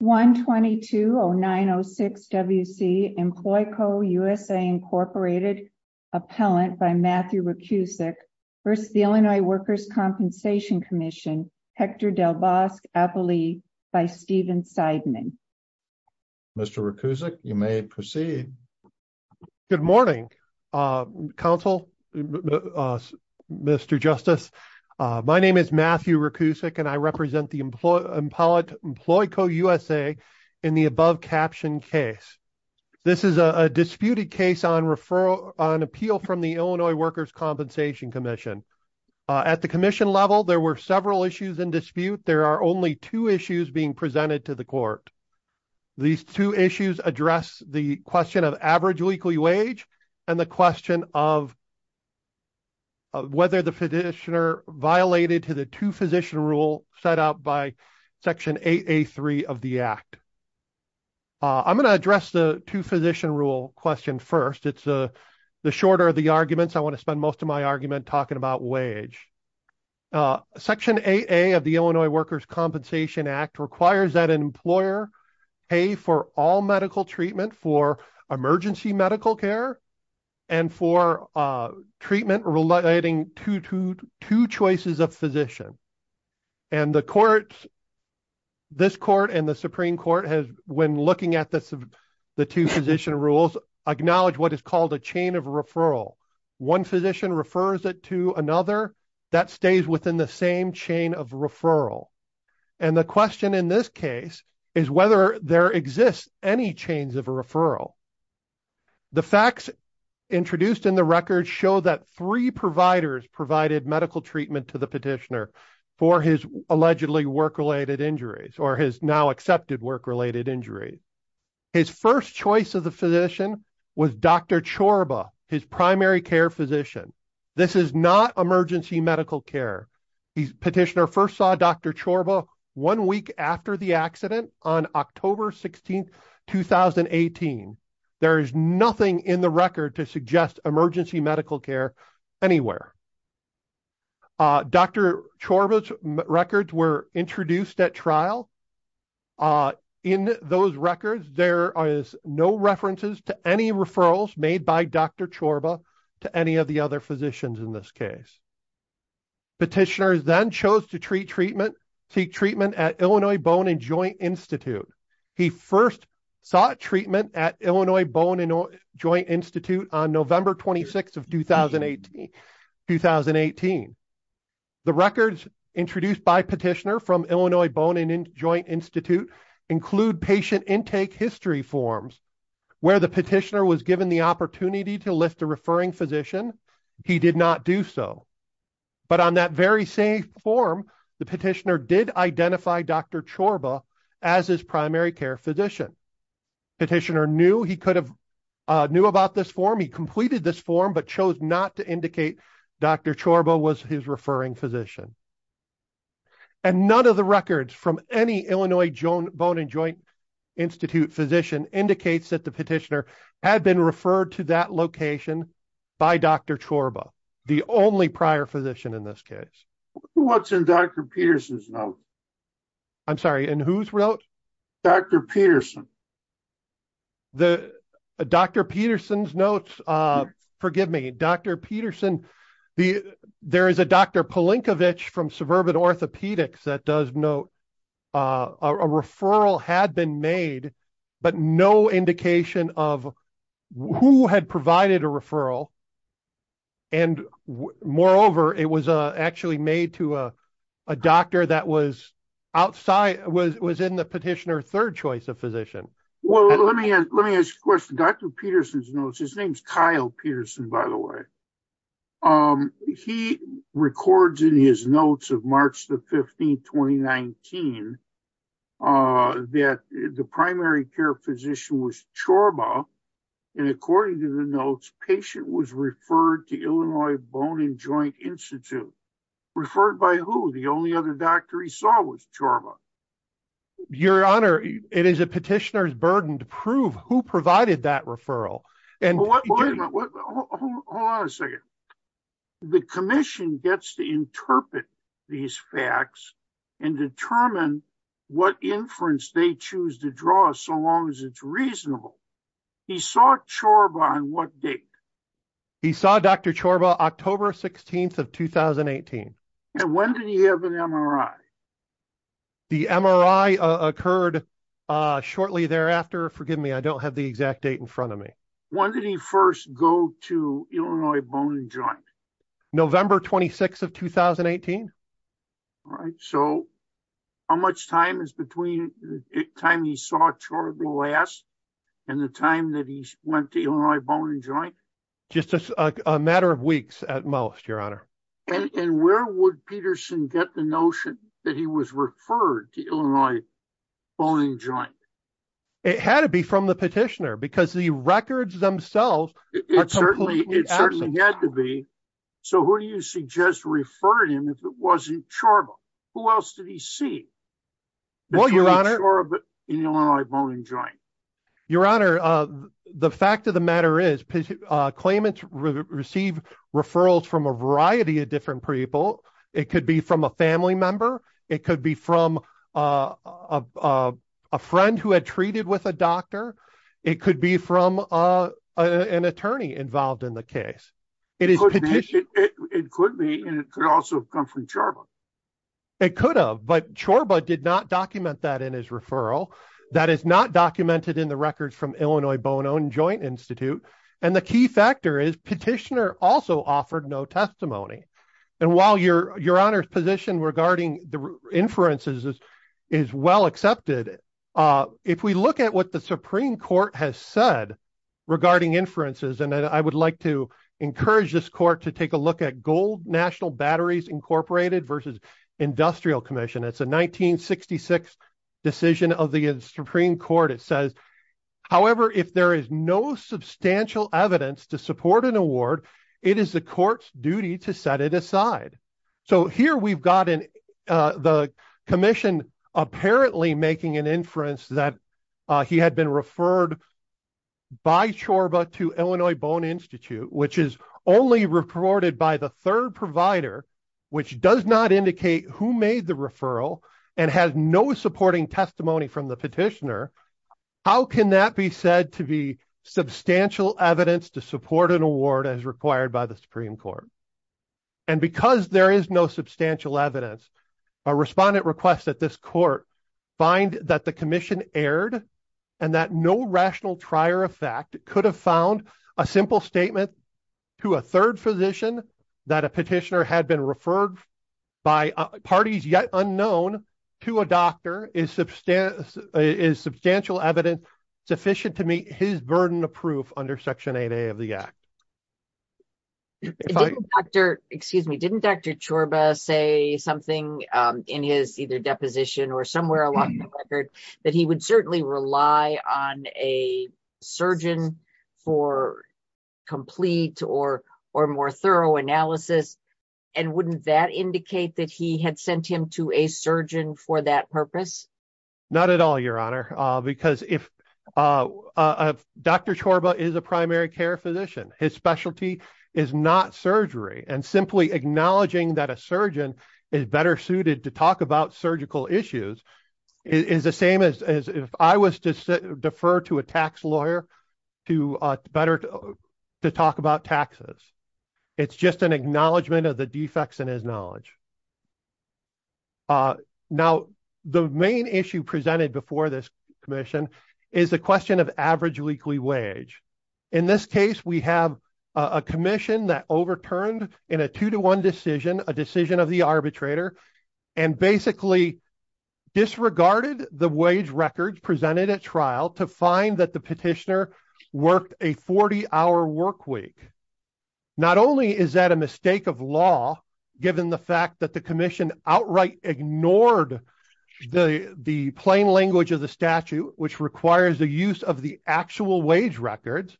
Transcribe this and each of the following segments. Hector Del Bosque-Apolli v. Stephen Seidman My name is Matthew Rakusik, and I represent EmployCoUSA in the above-captioned case. This is a disputed case on appeal from the Illinois Workers' Compensation Commission. At the commission level, there were several issues in dispute. There are only two issues being presented to the court. These two issues address the question of average weekly wage and the question of whether the physician violated the two-physician rule set out by Section 8A.3 of the Act. I'm going to address the two-physician rule question first. It's the shorter of the arguments. I want to spend most of my argument talking about wage. Section 8A of the Illinois Workers' Compensation Act requires that an employer pay for all medical treatment for emergency medical care and for treatment relating to two choices of physician. And the courts, this court and the Supreme Court, when looking at the two-physician rules, acknowledge what is called a chain of referral. One physician refers it to another. That stays within the same chain of referral. And the question in this case is whether there exists any chains of referral. The facts introduced in the record show that three providers provided medical treatment to the petitioner for his allegedly work-related injuries or his now-accepted work-related injuries. His first choice of the physician was Dr. Chorba, his primary care physician. This is not emergency medical care. The petitioner first saw Dr. Chorba one week after the accident on October 16, 2018. There is nothing in the record to suggest emergency medical care anywhere. Dr. Chorba's records were introduced at trial. In those records, there is no references to any referrals made by Dr. Chorba to any of the other physicians in this case. Petitioners then chose to seek treatment at Illinois Bone and Joint Institute. He first sought treatment at Illinois Bone and Joint Institute on November 26, 2018. The records introduced by petitioner from Illinois Bone and Joint Institute include patient intake history forms. Where the petitioner was given the opportunity to list a referring physician, he did not do so. But on that very same form, the petitioner did identify Dr. Chorba as his primary care physician. Petitioner knew he could have knew about this form. He completed this form but chose not to indicate Dr. Chorba was his referring physician. And none of the records from any Illinois Bone and Joint Institute physician indicates that the petitioner had been referred to that location by Dr. Chorba, the only prior physician in this case. What's in Dr. Peterson's note? I'm sorry, in whose note? Dr. Peterson. Dr. Peterson's notes, forgive me, Dr. Peterson, there is a Dr. Polinkovich from Suburban Orthopedics that does note a referral had been made, but no indication of who had provided a referral. And moreover, it was actually made to a doctor that was outside, was in the petitioner's third choice of physician. Well, let me ask you a question. Dr. Peterson's notes, his name's Kyle Peterson, by the way. He records in his notes of March the 15th, 2019, that the primary care physician was Chorba. And according to the notes, patient was referred to Illinois Bone and Joint Institute. Referred by who? The only other doctor he saw was Chorba. Your Honor, it is a petitioner's burden to prove who provided that referral. Hold on a second. The commission gets to interpret these facts and determine what inference they choose to draw so long as it's reasonable. He saw Chorba on what date? He saw Dr. Chorba October 16th of 2018. And when did he have an MRI? The MRI occurred shortly thereafter. Forgive me, I don't have the exact date in front of me. When did he first go to Illinois Bone and Joint? November 26th of 2018. All right. So how much time is between the time he saw Chorba last and the time that he went to Illinois Bone and Joint? Just a matter of weeks at most, Your Honor. And where would Peterson get the notion that he was referred to Illinois Bone and Joint? It had to be from the petitioner because the records themselves are completely absent. It certainly had to be. So who do you suggest referred him if it wasn't Chorba? Who else did he see? Well, Your Honor. If it wasn't Chorba in Illinois Bone and Joint. Your Honor, the fact of the matter is claimants receive referrals from a variety of different people. It could be from a family member. It could be from a friend who had treated with a doctor. It could be from an attorney involved in the case. It could be and it could also come from Chorba. It could have, but Chorba did not document that in his referral. That is not documented in the records from Illinois Bone and Joint Institute. And the key factor is petitioner also offered no testimony. And while Your Honor's position regarding the inferences is well accepted. If we look at what the Supreme Court has said regarding inferences, and I would like to encourage this court to take a look at Gold National Batteries Incorporated versus Industrial Commission. It's a 1966 decision of the Supreme Court. It says, however, if there is no substantial evidence to support an award, it is the court's duty to set it aside. So here we've got the commission apparently making an inference that he had been referred by Chorba to Illinois Bone Institute, which is only reported by the third provider, which does not indicate who made the referral and has no supporting testimony from the petitioner. How can that be said to be substantial evidence to support an award as required by the Supreme Court? And because there is no substantial evidence, a respondent requests that this court find that the commission erred and that no rational trier of fact could have found a simple statement to a third physician that a petitioner had been referred by parties yet unknown to a doctor is substantial evidence sufficient to meet his burden of proof under Section 8A of the Act. Excuse me, didn't Dr. Chorba say something in his either deposition or somewhere along the record that he would certainly rely on a surgeon for complete or more thorough analysis? And wouldn't that indicate that he had sent him to a surgeon for that purpose? Not at all, Your Honor, because if Dr. Chorba is a primary care physician, his specialty is not surgery. And simply acknowledging that a surgeon is better suited to talk about surgical issues is the same as if I was to defer to a tax lawyer to better to talk about taxes. It's just an acknowledgement of the defects in his knowledge. Now, the main issue presented before this commission is the question of average weekly wage. In this case, we have a commission that overturned in a two to one decision, a decision of the arbitrator, and basically disregarded the wage records presented at trial to find that the petitioner worked a 40 hour work week. Not only is that a mistake of law, given the fact that the commission outright ignored the plain language of the statute, which requires the use of the actual wage records,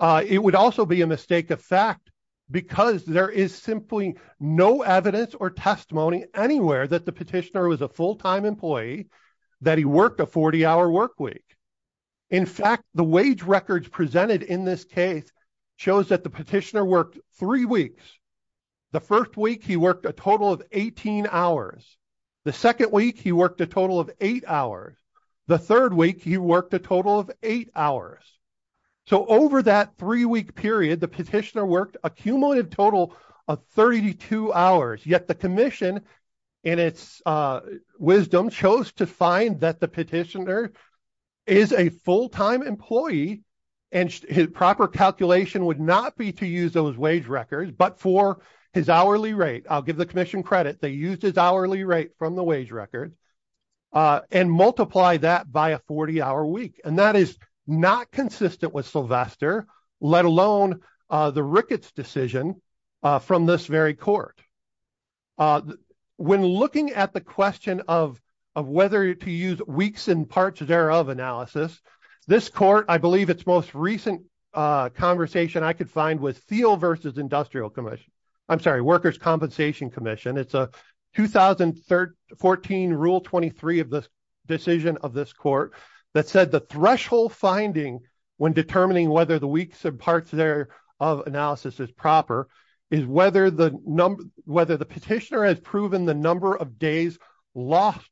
it would also be a mistake of fact, because there is simply no evidence or testimony anywhere that the petitioner was a full time employee, that he worked a 40 hour work week. In fact, the wage records presented in this case shows that the petitioner worked three weeks. The first week, he worked a total of 18 hours. The second week, he worked a total of eight hours. The third week, he worked a total of eight hours. So, over that three week period, the petitioner worked a cumulative total of 32 hours. Yet the commission, in its wisdom, chose to find that the petitioner is a full time employee and his proper calculation would not be to use those wage records, but for his hourly rate. I'll give the commission credit. They used his hourly rate from the wage records and multiply that by a 40 hour week. And that is not consistent with Sylvester, let alone the Ricketts decision from this very court. When looking at the question of whether to use weeks and parts thereof analysis, this court, I believe its most recent conversation I could find with Thiel versus Industrial Commission. I'm sorry, Workers' Compensation Commission. It's a 2014 Rule 23 of the decision of this court that said the threshold finding when determining whether the weeks and parts thereof analysis is proper is whether the petitioner has proven the number of days lost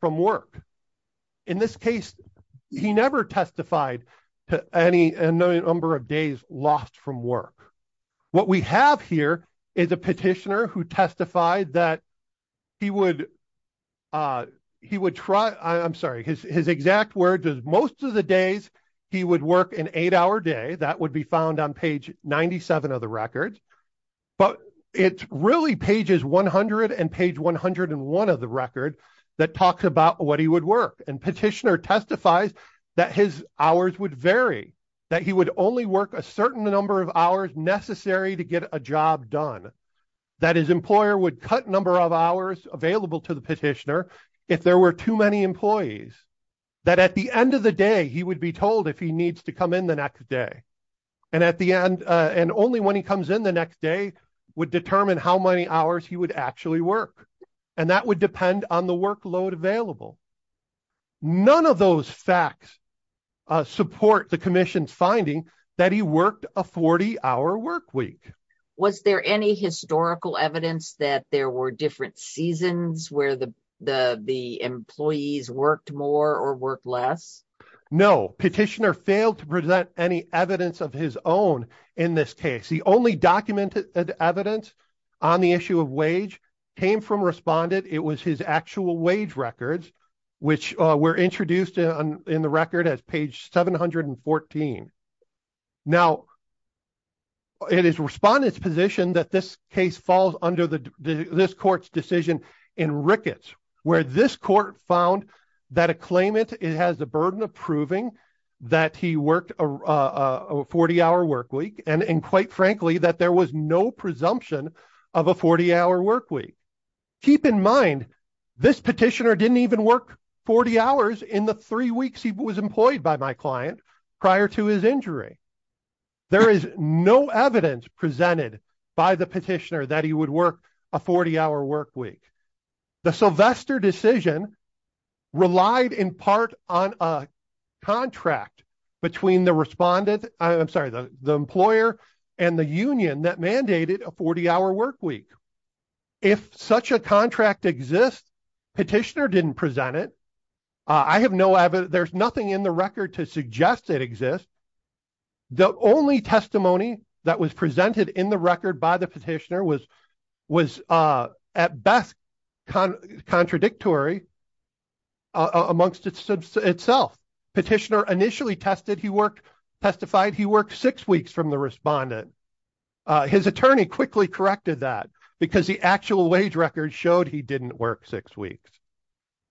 from work. In this case, he never testified to any number of days lost from work. What we have here is a petitioner who testified that he would try, I'm sorry, his exact word is most of the days he would work an eight hour day. That would be found on page 97 of the record. But it's really pages 100 and page 101 of the record that talks about what he would work. And petitioner testifies that his hours would vary, that he would only work a certain number of hours necessary to get a job done. That his employer would cut number of hours available to the petitioner if there were too many employees. That at the end of the day, he would be told if he needs to come in the next day. And at the end, and only when he comes in the next day, would determine how many hours he would actually work. And that would depend on the workload available. None of those facts support the commission's finding that he worked a 40 hour work week. Was there any historical evidence that there were different seasons where the employees worked more or work less? No, petitioner failed to present any evidence of his own in this case. The only documented evidence on the issue of wage came from respondent. It was his actual wage records, which were introduced in the record as page 714. Now, it is respondent's position that this case falls under this court's decision in Ricketts. Where this court found that a claimant has the burden of proving that he worked a 40 hour work week. And quite frankly, that there was no presumption of a 40 hour work week. Keep in mind, this petitioner didn't even work 40 hours in the three weeks he was employed by my client prior to his injury. There is no evidence presented by the petitioner that he would work a 40 hour work week. The Sylvester decision relied in part on a contract between the respondent. I'm sorry, the employer and the union that mandated a 40 hour work week. If such a contract exists, petitioner didn't present it. I have no evidence. There's nothing in the record to suggest it exists. The only testimony that was presented in the record by the petitioner was was at best contradictory. Amongst itself, petitioner initially tested, he worked, testified, he worked six weeks from the respondent. His attorney quickly corrected that because the actual wage record showed he didn't work six weeks.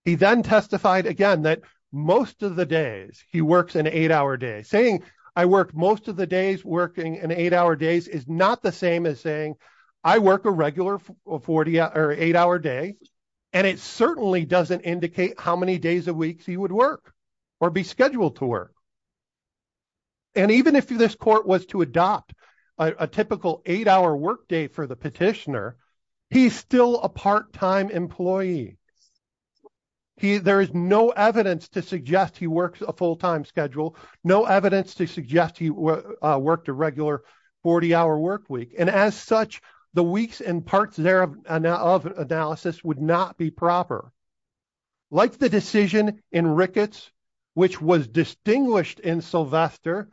He then testified again that most of the days he works an eight hour day saying I work. Most of the days working an eight hour days is not the same as saying I work a regular 40 or eight hour day. And it certainly doesn't indicate how many days a week he would work or be scheduled to work. And even if this court was to adopt a typical eight hour work day for the petitioner, he's still a part time employee. He there is no evidence to suggest he works a full time schedule. No evidence to suggest he worked a regular 40 hour work week. And as such, the weeks and parts there of analysis would not be proper. Like the decision in Ricketts, which was distinguished in Sylvester.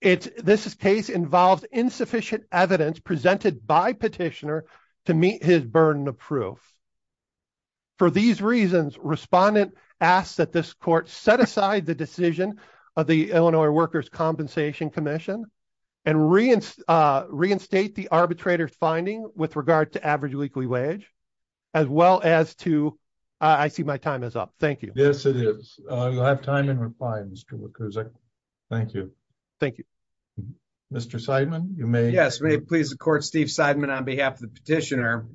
It's this case involves insufficient evidence presented by petitioner to meet his burden of proof. For these reasons, respondent asked that this court set aside the decision of the Illinois Workers Compensation Commission. And reinstate the arbitrator's finding with regard to average weekly wage, as well as to I see my time is up. Thank you. Yes, it is. I have time in reply. Thank you. Thank you. Mr. Seidman, you may. Yes, please. The court, Steve Seidman, on behalf of the petitioner.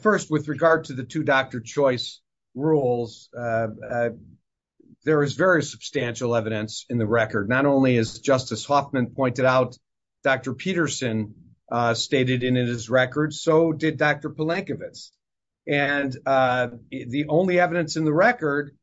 First, with regard to the two doctor choice rules, there is very substantial evidence in the record. Not only is Justice Hoffman pointed out, Dr. Peterson stated in his record. So did Dr. Polankiewicz. And the only evidence in the record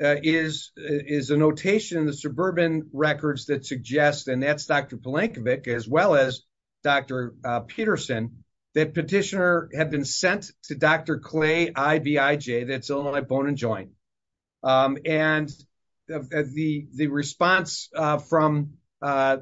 is is a notation, the suburban records that suggest. And that's Dr. Polankiewicz, as well as Dr. Peterson, that petitioner had been sent to Dr. Clay, I, B, I, J. That's all my bone and joint. And the the response from the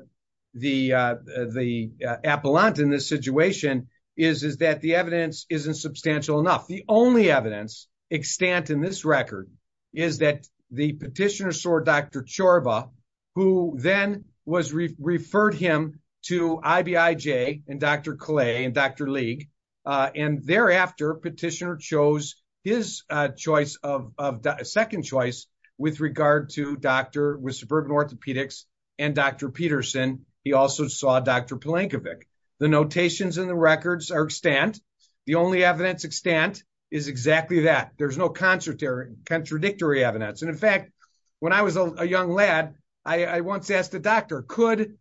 the appellant in this situation is, is that the evidence isn't substantial enough. The only evidence extant in this record is that the petitioner saw Dr. Chorba, who then was referred him to I, B, I, J. And Dr. Clay and Dr. League. And thereafter, petitioner chose his choice of a second choice with regard to Dr. With suburban orthopedics and Dr. Peterson. He also saw Dr. Polankiewicz. The notations in the records are extant. The only evidence extant is exactly that. There's no concert there. Contradictory evidence. And in fact, when I was a young lad, I once asked the doctor, could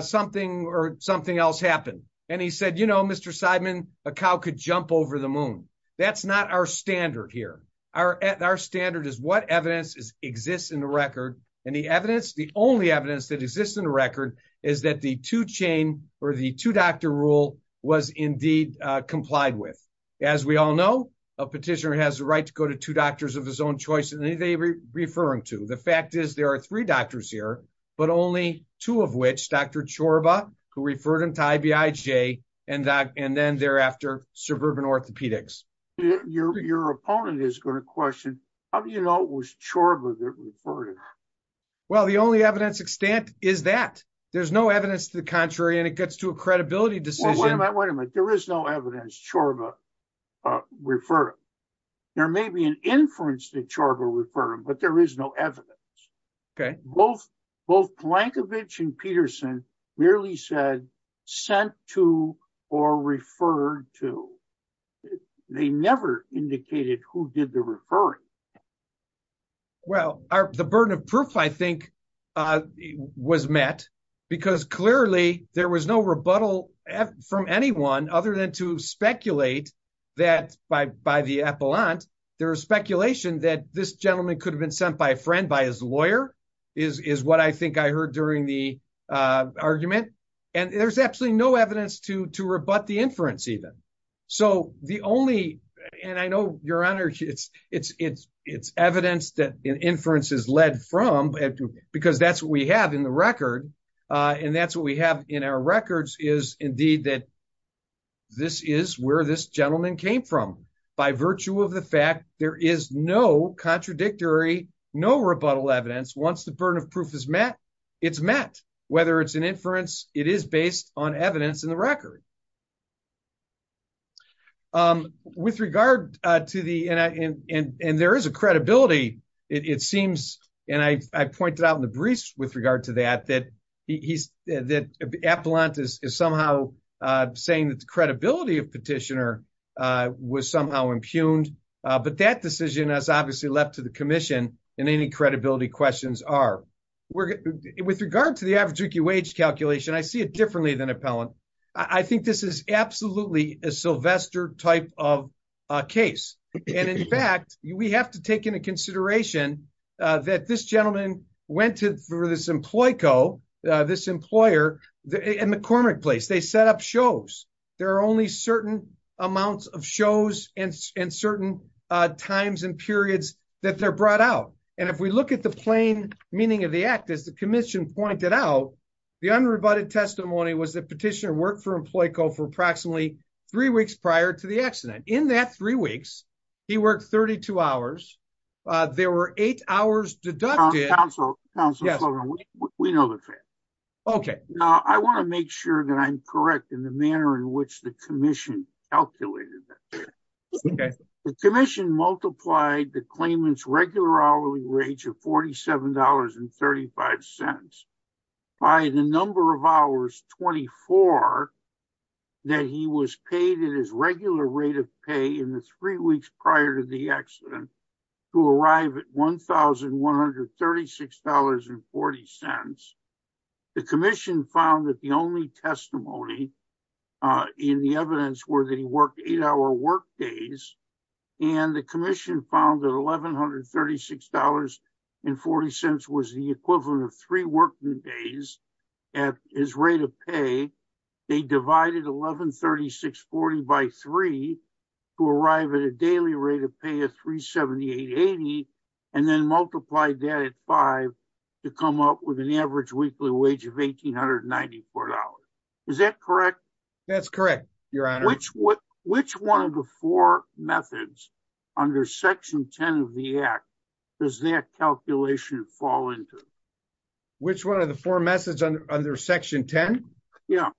something or something else happen? And he said, you know, Mr. Seidman, a cow could jump over the moon. That's not our standard here. Our standard is what evidence exists in the record. And the evidence, the only evidence that exists in the record is that the two chain or the two doctor rule was indeed complied with. As we all know, a petitioner has the right to go to two doctors of his own choice. And they were referring to the fact is there are three doctors here, but only two of which Dr. Chorba, who referred him to I, B, I, J. And and then thereafter, suburban orthopedics. Your opponent is going to question. How do you know it was Chorba that referred him? Well, the only evidence extant is that there's no evidence to the contrary. And it gets to a credibility decision. Wait a minute. There is no evidence Chorba referred him. There may be an inference that Chorba referred him, but there is no evidence. Both Plankovich and Peterson merely said sent to or referred to. They never indicated who did the referring. Well, the burden of proof, I think, was met because clearly there was no rebuttal from anyone other than to speculate that by by the appellant, there is speculation that this gentleman could have been sent by a friend by his lawyer is what I think I heard during the argument. And there's absolutely no evidence to to rebut the inference even. So the only and I know your honor, it's it's it's it's evidence that an inference is led from because that's what we have in the record. And that's what we have in our records is indeed that. This is where this gentleman came from. By virtue of the fact there is no contradictory, no rebuttal evidence. Once the burden of proof is met, it's met. Whether it's an inference, it is based on evidence in the record. With regard to the end, and there is a credibility, it seems. And I pointed out in the briefs with regard to that, that he's that appellant is somehow saying that the credibility of petitioner was somehow impugned. But that decision has obviously left to the commission and any credibility questions are with regard to the average wage calculation. I see it differently than appellant. I think this is absolutely a Sylvester type of case. And in fact, we have to take into consideration that this gentleman went to for this employee. This employer and McCormick place, they set up shows. There are only certain amounts of shows and certain times and periods that they're brought out. And if we look at the plain meaning of the act, as the commission pointed out. The unrebutted testimony was that petitioner worked for employee co for approximately 3 weeks prior to the accident in that 3 weeks. He worked 32 hours. There were 8 hours deducted. We know that. Okay, I want to make sure that I'm correct in the manner in which the commission calculated. The commission multiplied the claimants regular hourly wage of 47 dollars and 35 cents. By the number of hours, 24. That he was paid in his regular rate of pay in the 3 weeks prior to the accident. To arrive at 1136 dollars and 40 cents. The commission found that the only testimony. In the evidence where they work 8 hour work days. And the commission found that 1100 36 dollars. And 40 cents was the equivalent of 3 working days. At his rate of pay, they divided 1136 40 by 3. To arrive at a daily rate of pay a 378 80. And then multiply that at 5. To come up with an average weekly wage of 1894 dollars. Is that correct? That's correct. Which 1 of the 4 methods. Under section 10 of the act, does that calculation fall into. Which 1 of the 4 message under section 10. Yeah.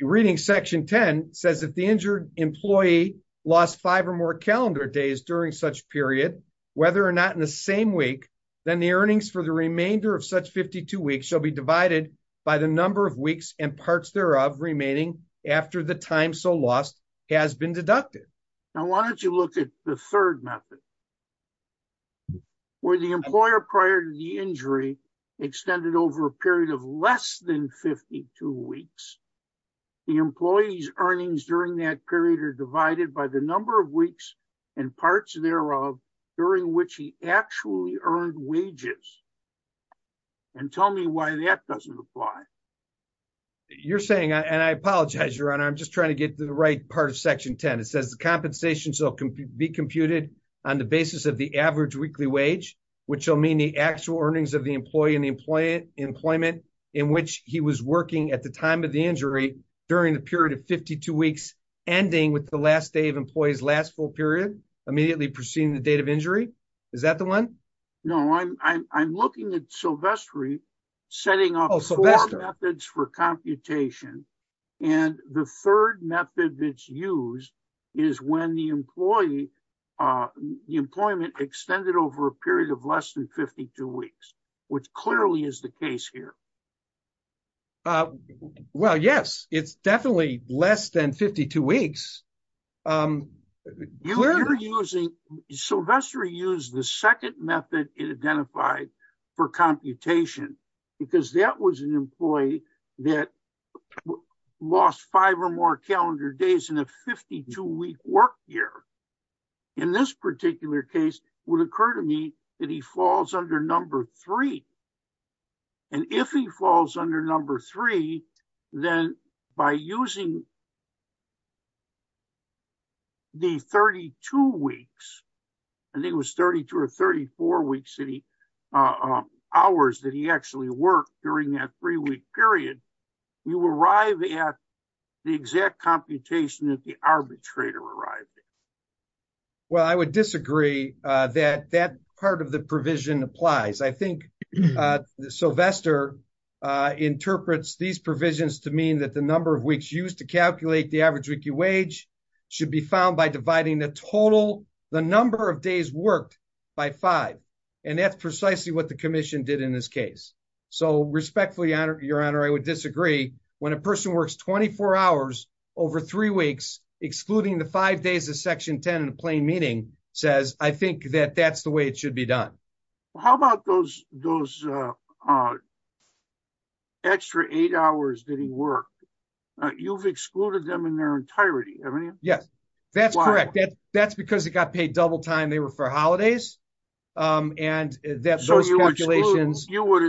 Reading section 10 says if the injured employee. Lost 5 or more calendar days during such period. Whether or not in the same week. Then the earnings for the remainder of such 52 weeks shall be divided. By the number of weeks and parts thereof remaining. After the time, so lost. Has been deducted. Now, why don't you look at the 3rd method? Where the employer prior to the injury. Extended over a period of less than 52 weeks. The employees earnings during that period are divided by the number of weeks and parts thereof. During which he actually earned wages. And tell me why that doesn't apply. You're saying, and I apologize, your honor. I'm just trying to get to the right part of section 10. It says the compensation. So can be computed. On the basis of the average weekly wage, which will mean the actual earnings of the employee and the employee employment. In which he was working at the time of the injury. During the period of 52 weeks. Ending with the last day of employees, last full period. Immediately proceeding the date of injury. Is that the 1? No, I'm, I'm, I'm looking at Sylvester. Setting up methods for computation. And the 3rd method that's used. Is when the employee. Employment extended over a period of less than 52 weeks. Which clearly is the case here. Well, yes, it's definitely less than 52 weeks. You were using Sylvester use the second method. Identified for computation. You're using the third method. Identified for computation. Because that was an employee. That. Lost five or more calendar days in a 52 week work year. In this particular case. Will occur to me. That he falls under number three. And if he falls under number three. Then by using. The 32 weeks. I think it was 32 or 34 weeks city. Hours that he actually worked during that 3 week period. You arrive at. The exact computation that the arbitrator arrived. Well, I would disagree that that part of the provision applies. I think Sylvester. Interprets these provisions to mean that the number of weeks used to calculate the average weekly wage. Should be found by dividing the total. The number of days worked. By five. And that's precisely what the commission did in this case. So respectfully honor your honor. I would disagree. When a person works 24 hours. Over three weeks, excluding the five days of section 10. Plain meaning says, I think that that's the way it should be done. How about those, those. Extra eight hours that he worked. You've excluded them in their entirety. Yes. That's correct. That's because it got paid double time. They were for holidays. And that's. You would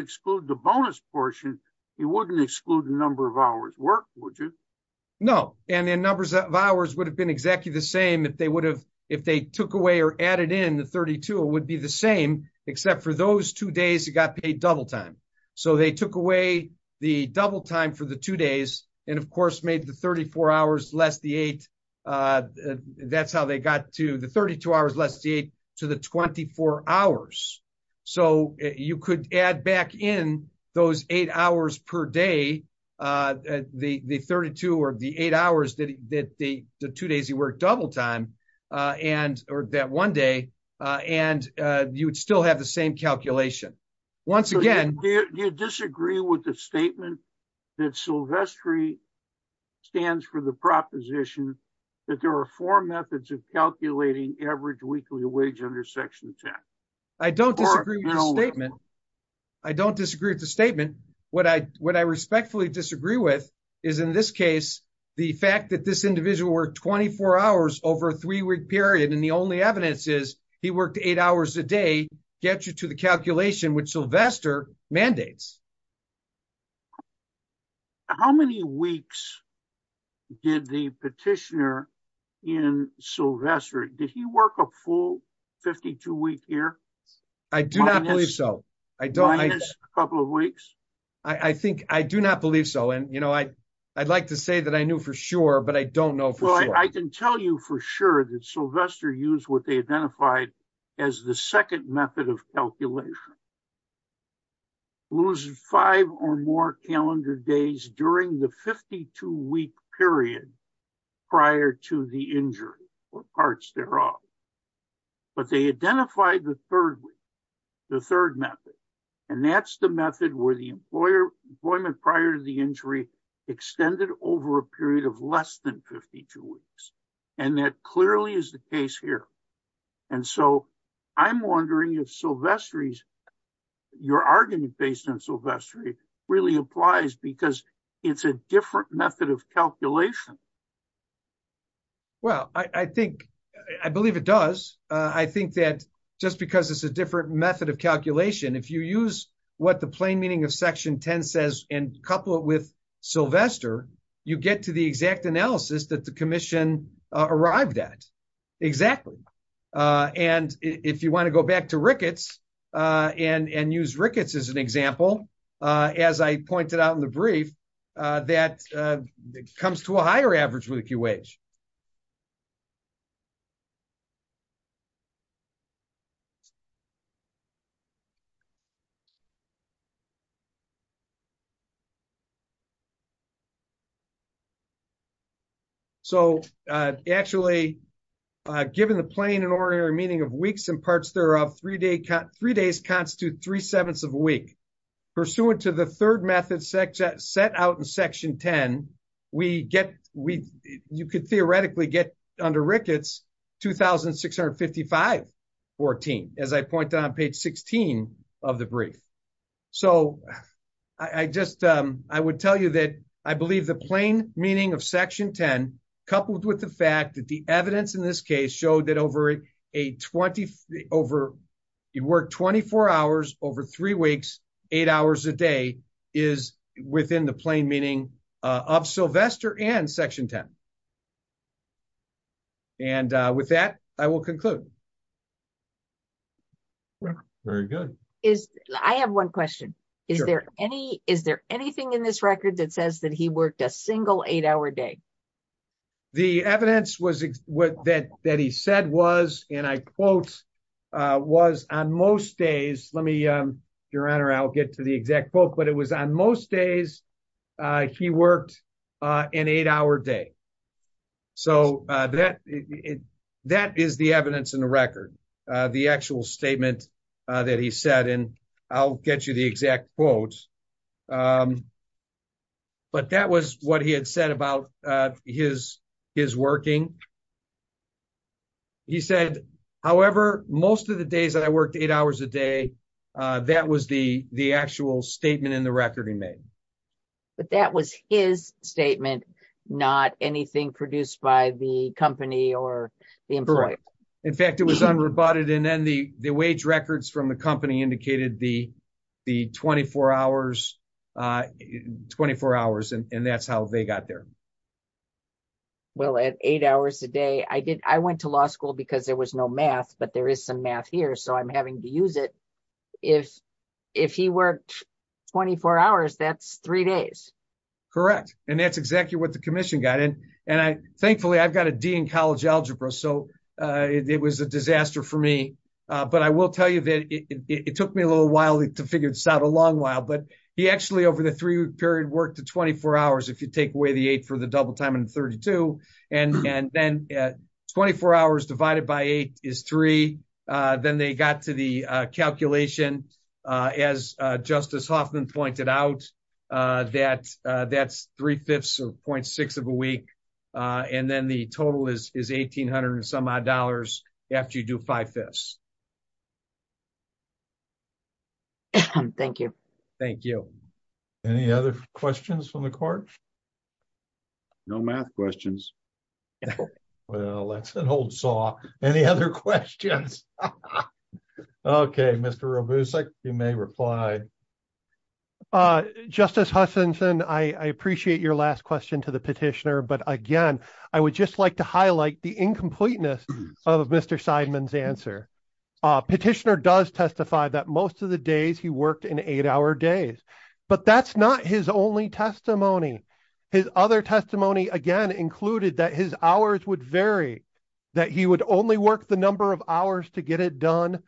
exclude the bonus portion. He wouldn't exclude the number of hours work. No, and then numbers of hours would have been exactly the same. If they would have, if they took away or added in the 32, it would be the same. Except for those two days, it got paid double time. So they took away the double time for the two days. And of course made the 34 hours less the eight. That's how they got to the 32 hours. Let's see. To the 24 hours. So you could add back in those eight hours per day. The, the 32 or the eight hours that he did. The two days he worked double time. And or that one day. And you would still have the same calculation. Once again, do you disagree with the statement? That Sylvester. Stands for the proposition. That there are four methods of calculating average weekly wage under section 10. I don't disagree with the statement. I don't disagree with the statement. And what I, what I respectfully disagree with. Is in this case, the fact that this individual. 24 hours over three week period. And the only evidence is. He worked eight hours a day. Get you to the calculation, which Sylvester mandates. How many weeks. Did the petitioner. In Sylvester, did he work a full 52 week here? I do not believe so. I don't. A couple of weeks. I think I do not believe so. And, you know, I. I'd like to say that I knew for sure, but I don't know. I can tell you for sure that Sylvester use what they identified. As the second method of calculation. Lose five or more calendar days during the 52 week period. Prior to the injury or parts thereof. But they identified the third week. The third method. And that's the method where the employer employment prior to the injury. Extended over a period of less than 52 weeks. And that clearly is the case here. And so I'm wondering if Sylvester's. Your argument based on Sylvester. Really applies because it's a different method of calculation. Well, I think. I believe it does. I think that. Just because it's a different method of calculation. If you use. What the plain meaning of section 10 says and couple it with. Sylvester. You get to the exact analysis that the commission. Arrived at. Exactly. And if you want to go back to Ricketts. And, and use Ricketts as an example. As I pointed out in the brief. That comes to a higher average with a QH. So actually. Given the plain and ordinary meaning of weeks and parts thereof. Three day cut three days constitute three sevenths of a week. And if you want to go back to Ricketts. Pursuant to the third method. Set out in section 10. We get, we, you could theoretically get under Ricketts. 2,655. 14, as I pointed on page 16. Of the brief. So. I just, I would tell you that I believe the plain meaning of section 10. Coupled with the fact that the evidence in this case showed that over. A 20 over. You work 24 hours over three weeks. Eight hours a day is within the plain meaning. Of Sylvester and section 10. And with that, I will conclude. Very good. I have one question. Is there any, is there anything in this record that says that he worked a single eight hour day? The evidence was. What that, that he said was, and I quote. Was on most days. Let me. Your honor, I'll get to the exact book, but it was on most days. He worked. In eight hour day. So that. That is the evidence in the record. The actual statement. That was on most days. That he said. I'll get you the exact quotes. But that was what he had said about his, his working. He said, however, most of the days that I worked eight hours a day. That was the, the actual statement in the record he made. But that was his statement. So that's the evidence in the record. That he said not anything produced by the company or. In fact, it was unrebutted. And then the wage records from the company indicated the. The 24 hours. 24 hours. And that's how they got there. Well, at eight hours a day. I did. I went to law school because there was no math, but there is some math here. So I'm having to use it. I'm having to use it. I'm having to use it. If, if he worked 24 hours, that's three days. Correct. And that's exactly what the commission got in. And I, thankfully I've got a Dean college algebra. So. It was a disaster for me. But I will tell you that it took me a little while to figure this out a long while, but. He actually, over the three period work to 24 hours, And then they got to the calculation. As justice Hoffman pointed out. That that's three fifths of 0.6 of a week. And then the total is, is 1800 and some odd dollars. After you do five fifths. Thank you. Thank you. Any other questions from the court. No math questions. Well, that's an old saw. Any other questions? Okay. Mr. You may reply. Justice Huffington. I appreciate your last question to the petitioner, but again, I would just like to highlight the incompleteness. Of Mr. Sideman's answer. Petitioner does testify that most of the days he worked in eight hour days. But that's not his only testimony. His other testimony again, included that his hours would vary. That he would only work the number of hours to get it done.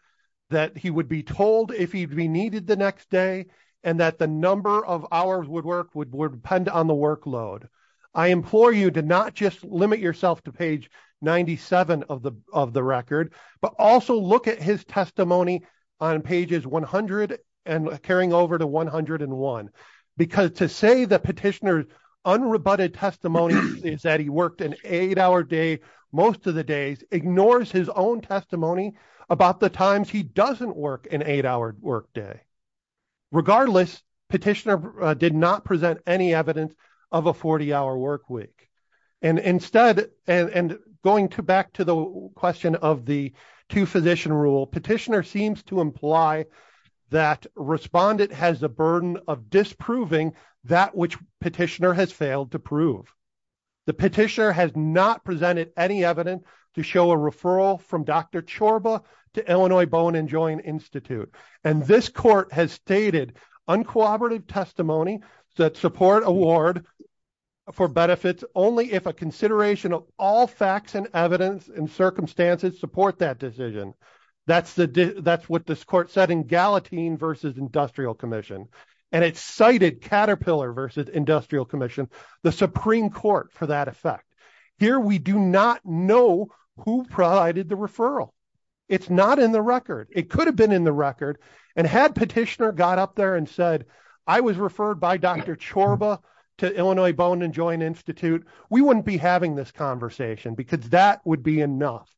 That he would be told if he'd be needed the next day. And that the number of hours would work would depend on the workload. I implore you to not just limit yourself to page 97 of the, of the record, but also look at his testimony. On pages 100 and carrying over to 101. Because to say the petitioner. Unrebutted testimony is that he worked an eight hour day. Most of the days ignores his own testimony about the times he doesn't work an eight hour work day. Regardless petitioner did not present any evidence. Of a 40 hour work week. And instead, and going to back to the question of the. To physician rule petitioner seems to imply. That respondent has a burden of disproving that which petitioner has failed to prove. The petitioner has not presented any evidence to show a referral from Dr. Chorba to Illinois bone and joint Institute. And this court has stated. Uncooperative testimony that support award. For benefits only if a consideration of all facts and evidence and circumstances support that decision. That's the, that's what this court said in Gallatin versus industrial commission. And it's cited Caterpillar versus industrial commission, the Supreme court for that effect. Here, we do not know who provided the referral. It's not in the record. It could have been in the record. And had petitioner got up there and said, I was referred by Dr. Chorba to Illinois bone and joint Institute. We wouldn't be having this conversation because that would be enough.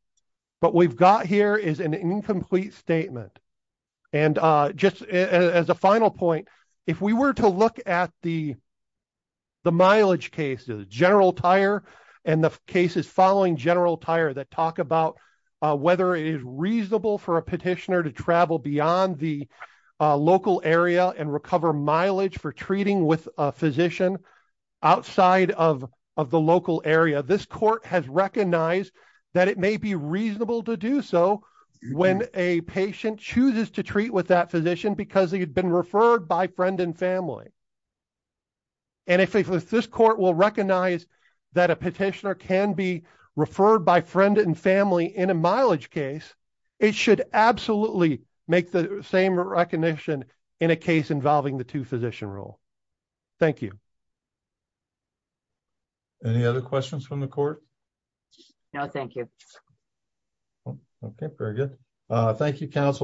But we've got here is an incomplete statement. And just as a final point, if we were to look at the. The mileage cases, general tire and the cases following general tire, that talk about. Whether it is reasonable for a petitioner to travel beyond the local area and recover mileage for treating with a physician. Outside of, of the local area, this court has recognized that it may be reasonable to do so when a patient chooses to treat with that physician, because he had been referred by friend and family. And if this court will recognize that a petitioner can be referred by friend and family in a mileage case, it should absolutely make the same recognition in a case involving the two physician role. Thank you. Any other questions from the court? No, thank you. Okay, very good. Thank you.